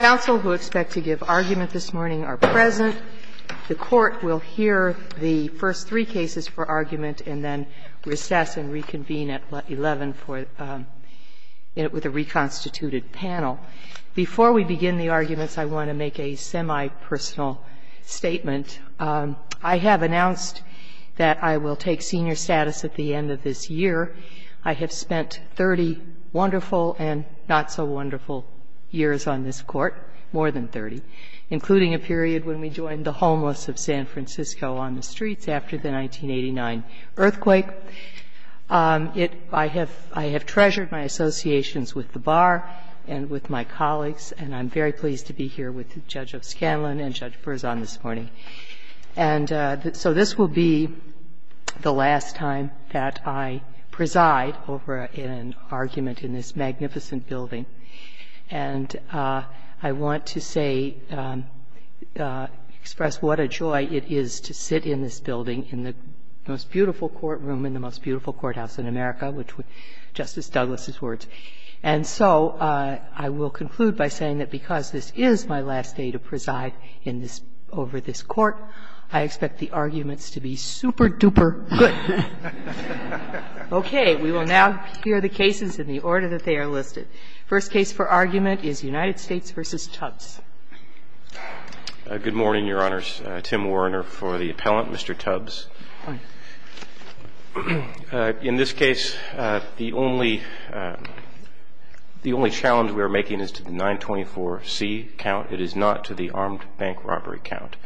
Counsel who expect to give argument this morning are present. The Court will hear the first three cases for argument and then recess and reconvene at 11 for, with a reconstituted panel. Before we begin the arguments, I want to make a semi-personal statement. I have announced that I will take senior status at the end of this year. I have spent 30 wonderful and not-so-wonderful years on this Court, more than 30, including a period when we joined the homeless of San Francisco on the streets after the 1989 earthquake. I have treasured my associations with the Bar and with my colleagues, and I'm very pleased to be here with Judge O'Scanlan and Judge Furzon this morning. And so this will be the last time that I preside over an argument in this magnificent building. And I want to say, express what a joy it is to sit in this building, in the most beautiful courtroom, in the most beautiful courthouse in America, which would be Justice Douglas' words. And so I will conclude by saying that because this is my last day to preside in this – over this Court, I expect the arguments to be super-duper good. Okay. We will now hear the cases in the order that they are listed. First case for argument is United States v. Tubbs. Good morning, Your Honors. Tim Werner for the appellant, Mr. Tubbs. In this case, the only – the only challenge we are making is to the 924C count. It is not to the armed bank robbery count.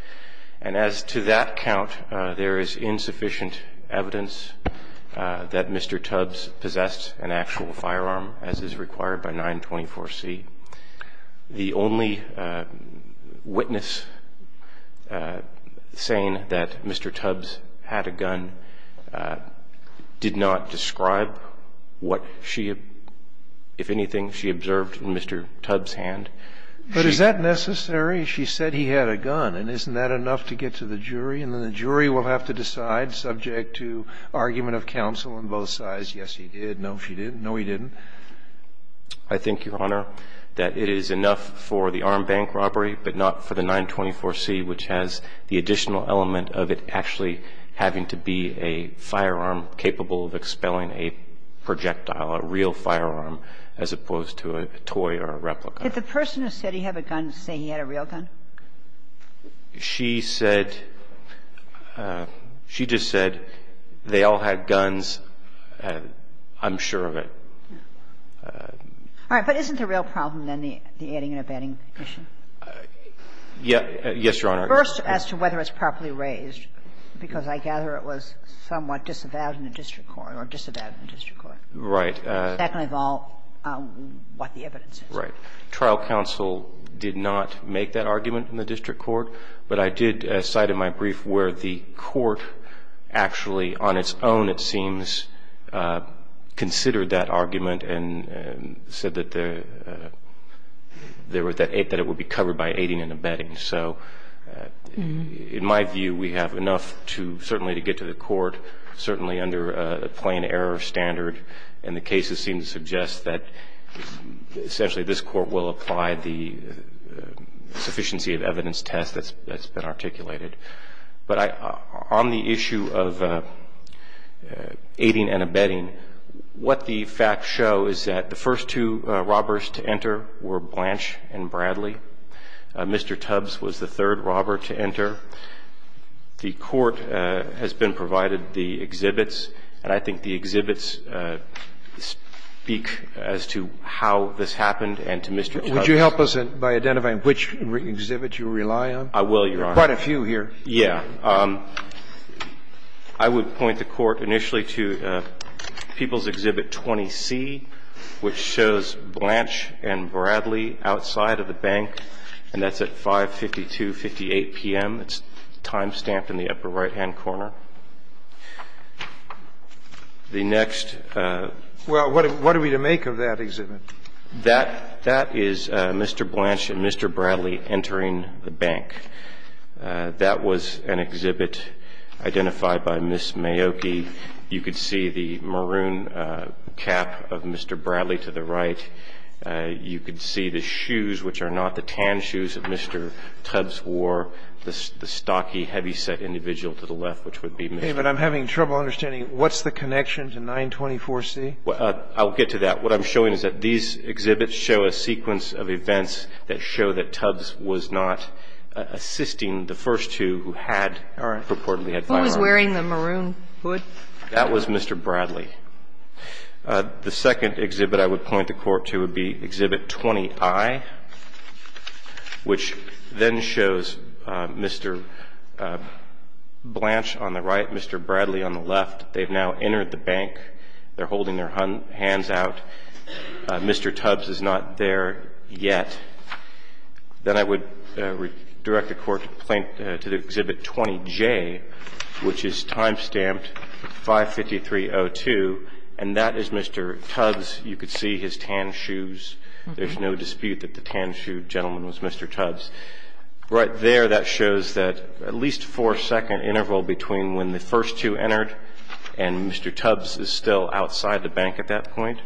And as to that count, there is insufficient evidence that Mr. Tubbs possessed an actual firearm, as is required by 924C. The only witness saying that Mr. Tubbs had a gun did not describe what she – if anything, she observed in Mr. Tubbs' hand. But is that necessary? She said he had a gun. And isn't that enough to get to the jury? And then the jury will have to decide, subject to argument of counsel on both sides, yes, he did, no, she didn't, no, he didn't. I think, Your Honor, that it is enough for the armed bank robbery, but not for the 924C, which has the additional element of it actually having to be a firearm capable of expelling a projectile, a real firearm, as opposed to a toy or a replica. The person who said he had a gun say he had a real gun? She said – she just said they all had guns, I'm sure of it. All right. But isn't the real problem, then, the adding and abetting issue? Yes, Your Honor. First, as to whether it's properly raised, because I gather it was somewhat disavowed in the district court or disavowed in the district court. Right. Second of all, what the evidence is. Right. Trial counsel did not make that argument in the district court, but I did cite in my brief where the court actually, on its own, it seems, considered that argument and said that it would be covered by adding and abetting. So in my view, we have enough certainly to get to the court, certainly under the plain error standard, and the cases seem to suggest that essentially this court will apply the sufficiency of evidence test that's been articulated. But on the issue of aiding and abetting, what the facts show is that the first two robbers to enter were Blanche and Bradley. Mr. Tubbs was the third robber to enter. The court has been provided the exhibits, and I think the exhibits speak as to how this happened and to Mr. Tubbs. Would you help us by identifying which exhibits you rely on? I will, Your Honor. There are quite a few here. Yeah. I would point the court initially to People's Exhibit 20C, which shows Blanche and Bradley outside of the bank, and that's at 552.58 p.m. It's time stamped in the upper right-hand corner. The next ---- Well, what are we to make of that exhibit? That is Mr. Blanche and Mr. Bradley entering the bank. That was an exhibit identified by Ms. Mayoki. You could see the maroon cap of Mr. Bradley to the right. You could see the shoes, which are not the tan shoes that Mr. Tubbs wore, the stocky heavyset individual to the left, which would be Ms. Mayoki. Okay. But I'm having trouble understanding. What's the connection to 924C? I'll get to that. What I'm showing is that these exhibits show a sequence of events that show that Tubbs was not assisting the first two who had purportedly had firearms. Who was wearing the maroon hood? That was Mr. Bradley. The second exhibit I would point the Court to would be Exhibit 20I, which then shows Mr. Blanche on the right, Mr. Bradley on the left. They've now entered the bank. They're holding their hands out. Mr. Tubbs is not there yet. Then I would direct the Court to the Exhibit 20J, which is time-stamped 55302, and that is Mr. Tubbs. You could see his tan shoes. There's no dispute that the tan-shoed gentleman was Mr. Tubbs. Right there, that shows that at least four-second interval between when the first two entered and Mr. Tubbs is still outside the bank at that point.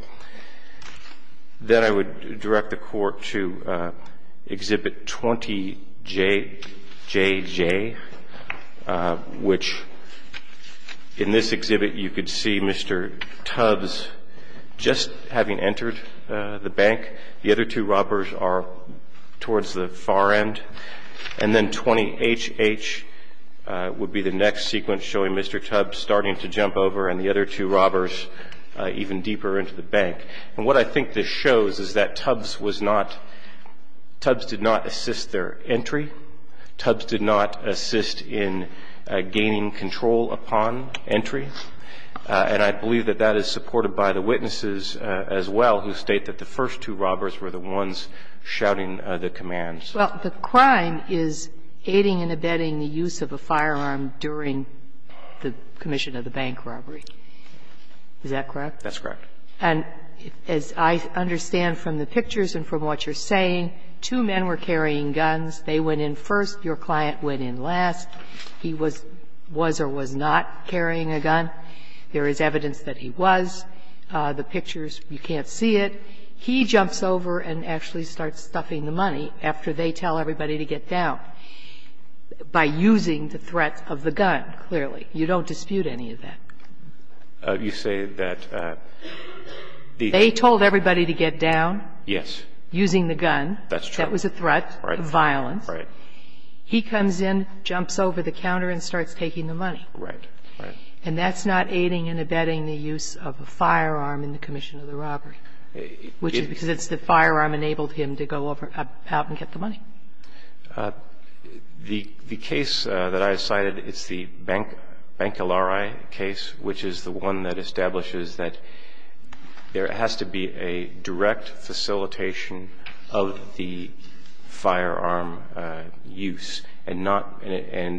Then I would direct the Court to Exhibit 20JJ, which in this exhibit you could see Mr. Tubbs just having entered the bank. The other two robbers are towards the far end. And then 20HH would be the next sequence showing Mr. Tubbs starting to jump over and the other two robbers even deeper into the bank. And what I think this shows is that Tubbs was not – Tubbs did not assist their entry. Tubbs did not assist in gaining control upon entry. And I believe that that is supported by the witnesses as well, who state that the first two robbers were the ones shouting the commands. Well, the crime is aiding and abetting the use of a firearm during the commission of the bank robbery. Is that correct? That's correct. And as I understand from the pictures and from what you're saying, two men were carrying guns. They went in first. Your client went in last. He was or was not carrying a gun. There is evidence that he was. The pictures, you can't see it. He jumps over and actually starts stuffing the money after they tell everybody to get down by using the threat of the gun, clearly. You don't dispute any of that. You say that the – They told everybody to get down using the gun. That's true. That was a threat of violence. Right. He comes in, jumps over the counter, and starts taking the money. Right. Right. And that's not aiding and abetting the use of a firearm in the commission of the robbery, which is because it's the firearm enabled him to go out and get the money. The case that I cited, it's the Bankilare case, which is the one that establishes that there has to be a direct facilitation of the firearm use. And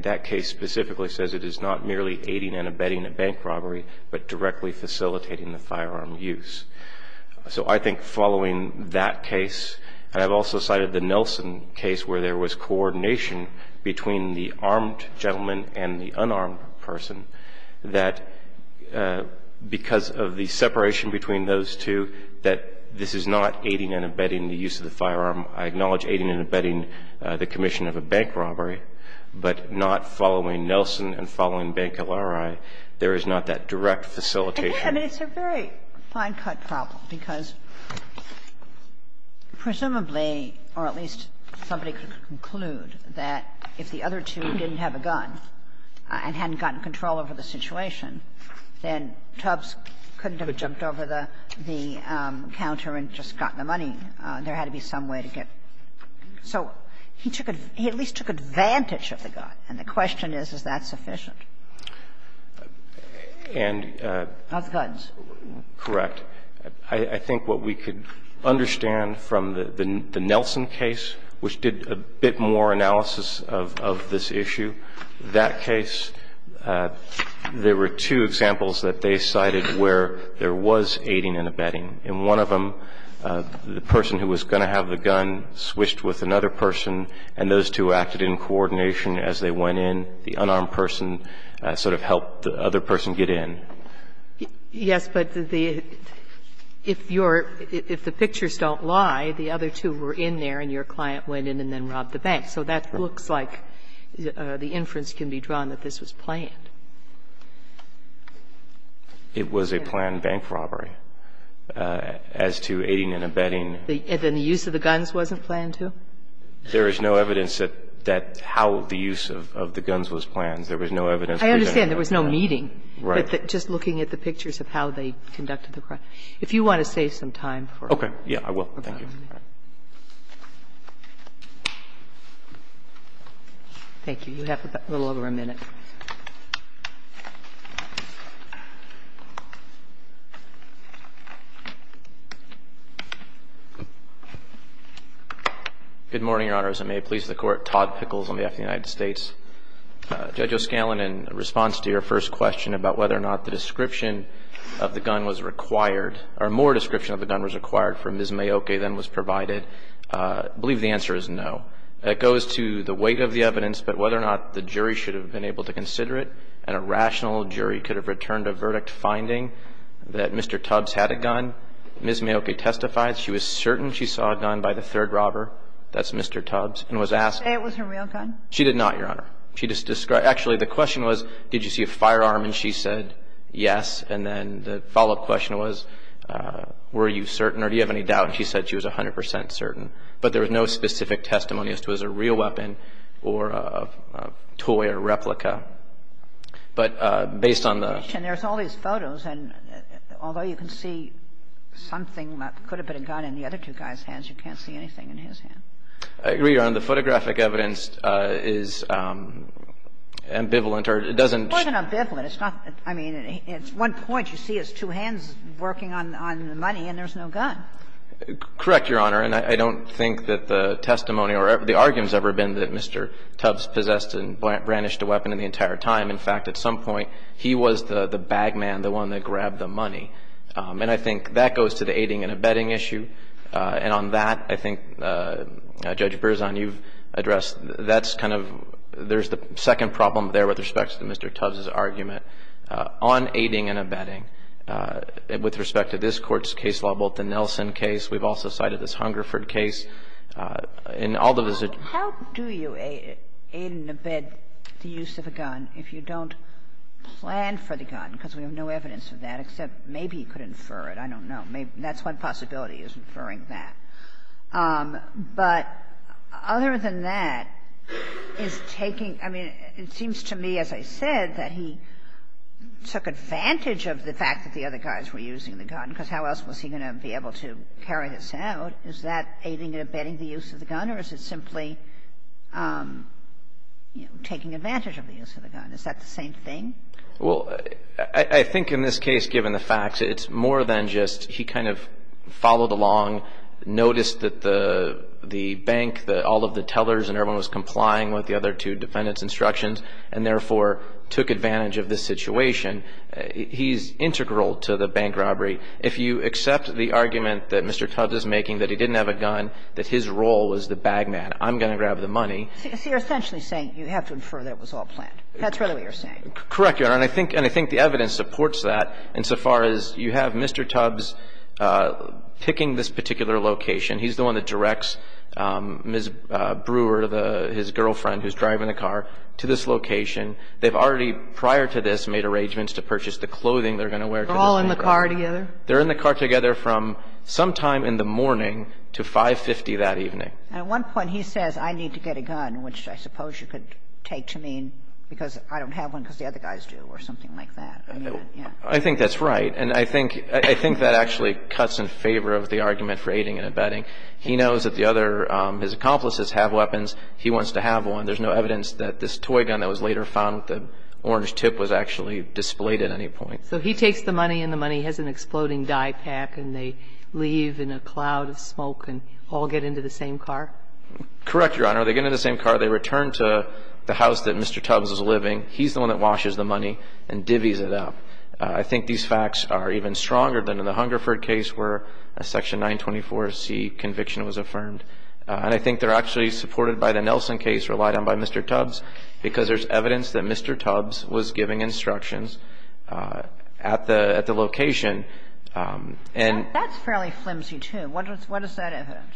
that case specifically says it is not merely aiding and abetting a bank robbery, but directly facilitating the firearm use. So I think following that case, and I've also cited the Nelson case where there was coordination between the armed gentleman and the unarmed person, that because of the separation between those two, that this is not aiding and abetting the use of the firearm. I acknowledge aiding and abetting the commission of a bank robbery, but not following Nelson and following Bankilare, there is not that direct facilitation. Kagan. And it's a very fine-cut problem, because presumably, or at least somebody could conclude, that if the other two didn't have a gun and hadn't gotten control over the situation, then Tubbs couldn't have jumped over the counter and just gotten the money. There had to be some way to get it. So he took at least took advantage of the gun, and the question is, is that sufficient? Houskudds. Correct. I think what we could understand from the Nelson case, which did a bit more analysis of this issue, that case, there were two examples that they cited where there was aiding and abetting. In one of them, the person who was going to have the gun switched with another person, and those two acted in coordination as they went in. The unarmed person sort of helped the other person get in. Yes, but the – if you're – if the pictures don't lie, the other two were in there and your client went in and then robbed the bank. So that looks like the inference can be drawn that this was planned. It was a planned bank robbery. As to aiding and abetting. And then the use of the guns wasn't planned, too? There is no evidence that how the use of the guns was planned. There was no evidence presented. I understand. There was no meeting. Right. Just looking at the pictures of how they conducted the crime. If you want to save some time for it. Okay. Yeah, I will. Thank you. Thank you. You have a little over a minute. Good morning, Your Honor. As it may please the Court, Todd Pickles on behalf of the United States. Judge O'Scanlan, in response to your first question about whether or not the description of the gun was required, or more description of the gun was required for Ms. Mayoke than was provided, I believe the answer is no. It goes to the weight of the evidence, but whether or not the jury should have been able to consider it, and a rational jury could have returned a verdict finding that Mr. Tubbs had a gun. Ms. Mayoke testified she was certain she saw a gun by the third robber, that's Mr. Tubbs, and was asked. It was her real gun? She did not, Your Honor. She just described – actually, the question was, did you see a firearm? And she said yes. And then the follow-up question was, were you certain or do you have any doubt? And she said she was 100 percent certain. But there was no specific testimony as to whether it was a real weapon or a toy or replica. But based on the – And there's all these photos, and although you can see something that could have been a gun in the other two guys' hands, you can't see anything in his hand. I agree, Your Honor. The photographic evidence is ambivalent or it doesn't – It's more than ambivalent. It's not – I mean, it's one point you see his two hands working on the money and there's no gun. Correct, Your Honor. And I don't think that the testimony or the argument has ever been that Mr. Tubbs possessed and brandished a weapon the entire time. In fact, at some point, he was the bag man, the one that grabbed the money. And I think that goes to the aiding and abetting issue. And on that, I think, Judge Berzon, you've addressed, that's kind of – there's the second problem there with respect to Mr. Tubbs' argument on aiding and abetting. With respect to this Court's case level, the Nelson case, we've also cited this Ungerford case in all the visits. How do you aid and abet the use of a gun if you don't plan for the gun, because we have no evidence of that, except maybe he could infer it. I don't know. Maybe – that's one possibility is inferring that. But other than that, is taking – I mean, it seems to me, as I said, that he took advantage of the fact that the other guys were using the gun, because how else was he going to be able to carry this out? Is that aiding and abetting the use of the gun, or is it simply, you know, taking advantage of the use of the gun? Is that the same thing? Well, I think in this case, given the facts, it's more than just he kind of followed along, noticed that the bank, all of the tellers and everyone was complying with the other two defendants' instructions, and therefore took advantage of this situation. He's integral to the bank robbery. If you accept the argument that Mr. Tubbs is making that he didn't have a gun, that his role was the bag man, I'm going to grab the money. So you're essentially saying you have to infer that it was all planned. That's really what you're saying. Correct, Your Honor. And I think the evidence supports that insofar as you have Mr. Tubbs picking this particular location. He's the one that directs Ms. Brewer, his girlfriend, who's driving the car, to this location. They've already, prior to this, made arrangements to purchase the clothing they're going to wear to the bank robbery. So they're all in the car together? They're in the car together from sometime in the morning to 5.50 that evening. And at one point he says, I need to get a gun, which I suppose you could take to mean because I don't have one because the other guys do or something like that. I think that's right. And I think that actually cuts in favor of the argument for aiding and abetting. He knows that the other his accomplices have weapons. He wants to have one. There's no evidence that this toy gun that was later found with the orange tip was actually displayed at any point. So he takes the money, and the money has an exploding dye pack. And they leave in a cloud of smoke and all get into the same car? Correct, Your Honor. They get in the same car. They return to the house that Mr. Tubbs is living. He's the one that washes the money and divvies it up. I think these facts are even stronger than in the Hungerford case where a Section 924C conviction was affirmed. And I think they're actually supported by the Nelson case, relied on by Mr. Tubbs, because there's evidence that Mr. Tubbs was giving instructions at the location. And that's fairly flimsy, too. What is that evidence?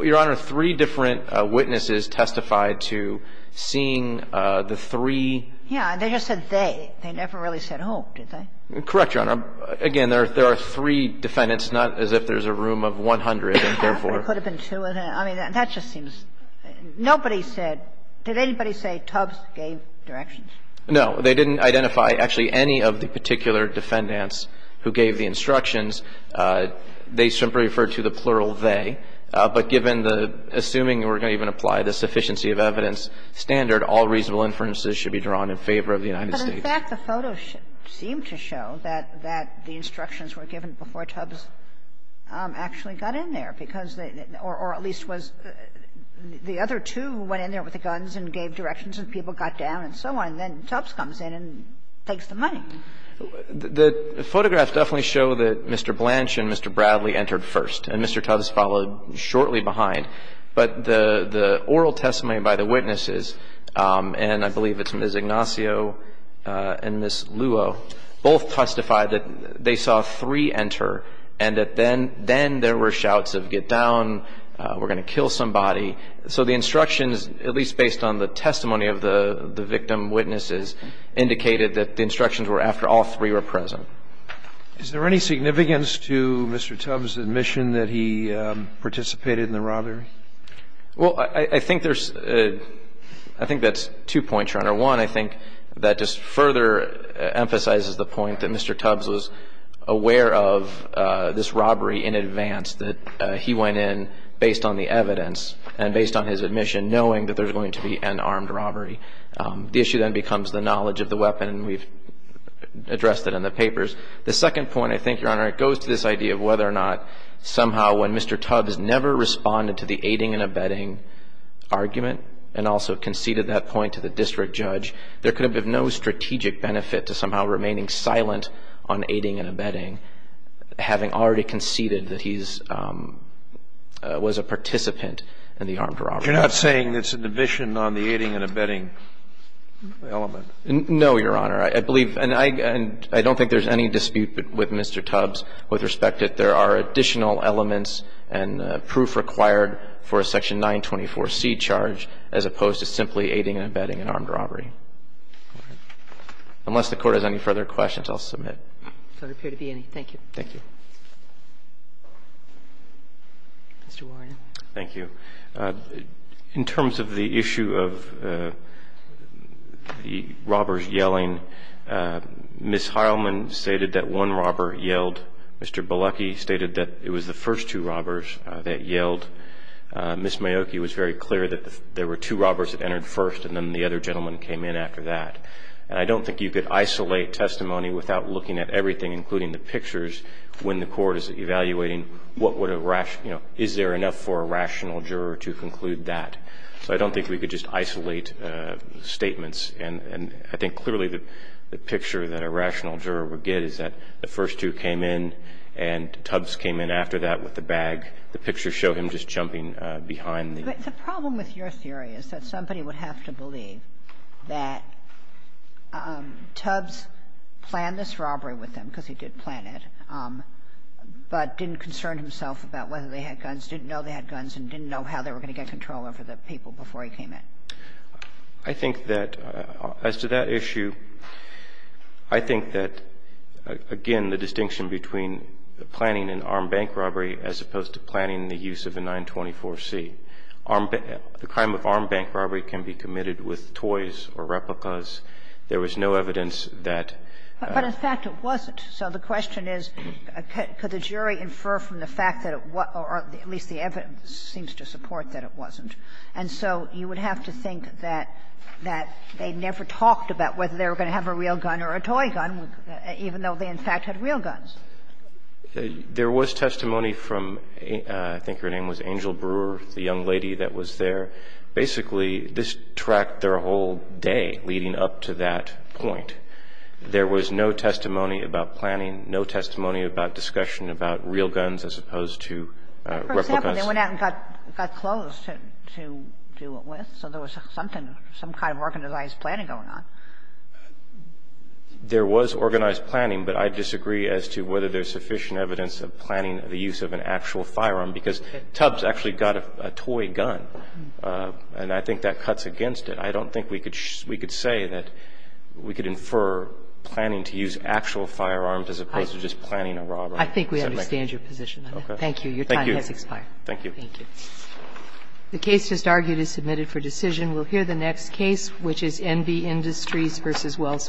Your Honor, three different witnesses testified to seeing the three. Yeah. And they just said they. They never really said who, did they? Correct, Your Honor. Again, there are three defendants, not as if there's a room of 100, and therefore. There could have been two of them. I mean, that just seems – nobody said. Did anybody say Tubbs gave directions? No. They didn't identify actually any of the particular defendants who gave the instructions. They simply referred to the plural they. But given the – assuming we're going to even apply the sufficiency of evidence standard, all reasonable inferences should be drawn in favor of the United States. But in fact, the photos seem to show that the instructions were given before Tubbs actually got in there, because they – or at least was – the other two went in there with the guns and gave directions, and people got down and so on, and then Tubbs comes in and takes the money. The photographs definitely show that Mr. Blanch and Mr. Bradley entered first, and Mr. Tubbs followed shortly behind. But the oral testimony by the witnesses, and I believe it's Ms. Ignacio and Ms. Luo, both testified that they saw three enter and that then there were shouts of get down, we're going to kill somebody. So the instructions, at least based on the testimony of the victim witnesses, indicated that the instructions were after all three were present. Is there any significance to Mr. Tubbs' admission that he participated in the robbery? Well, I think there's – I think that's two points, Your Honor. One, I think that just further emphasizes the point that Mr. Tubbs was aware of this and based on his admission, knowing that there's going to be an armed robbery. The issue then becomes the knowledge of the weapon, and we've addressed it in the papers. The second point, I think, Your Honor, it goes to this idea of whether or not somehow when Mr. Tubbs never responded to the aiding and abetting argument and also conceded that point to the district judge, there could have been no strategic benefit to somehow remaining silent on aiding and abetting, having already conceded that he's – was a participant in the armed robbery. You're not saying it's a division on the aiding and abetting element? No, Your Honor. I believe – and I don't think there's any dispute with Mr. Tubbs with respect that there are additional elements and proof required for a section 924C charge as opposed to simply aiding and abetting an armed robbery. Unless the Court has any further questions, I'll submit. There don't appear to be any. Thank you. Thank you. Mr. Warren. Thank you. In terms of the issue of the robbers yelling, Ms. Heilman stated that one robber yelled. Mr. Bielucki stated that it was the first two robbers that yelled. Ms. Miyoki was very clear that there were two robbers that entered first and then the other gentleman came in after that. And I don't think you could isolate testimony without looking at everything, including the for a rational juror to conclude that. So I don't think we could just isolate statements. And I think clearly the picture that a rational juror would get is that the first two came in, and Tubbs came in after that with the bag. The pictures show him just jumping behind the – But the problem with your theory is that somebody would have to believe that Tubbs planned this robbery with them, because he did plan it, but didn't concern himself about whether they had guns, didn't know they had guns, and didn't know how they were going to get control over the people before he came in. I think that as to that issue, I think that, again, the distinction between planning an armed bank robbery as opposed to planning the use of a 924-C. Armed – the crime of armed bank robbery can be committed with toys or replicas. There was no evidence that – But in fact, it wasn't. So the question is, could the jury infer from the fact that it was – or at least the evidence seems to support that it wasn't. And so you would have to think that they never talked about whether they were going to have a real gun or a toy gun, even though they, in fact, had real guns. There was testimony from – I think her name was Angel Brewer, the young lady that was there. Basically, this tracked their whole day leading up to that point. There was no testimony about planning, no testimony about discussion about real guns as opposed to replicas. For example, they went out and got clothes to do it with, so there was something – some kind of organized planning going on. There was organized planning, but I disagree as to whether there's sufficient evidence of planning the use of an actual firearm, because Tubbs actually got a toy gun, and I think that cuts against it. I don't think we could – we could say that we could infer planning to use actual firearms as opposed to just planning a robbery. I think we understand your position on that. Thank you. Your time has expired. Thank you. Thank you. The case just argued is submitted for decision. We'll hear the next case, which is Enby Industries v. Wells Fargo.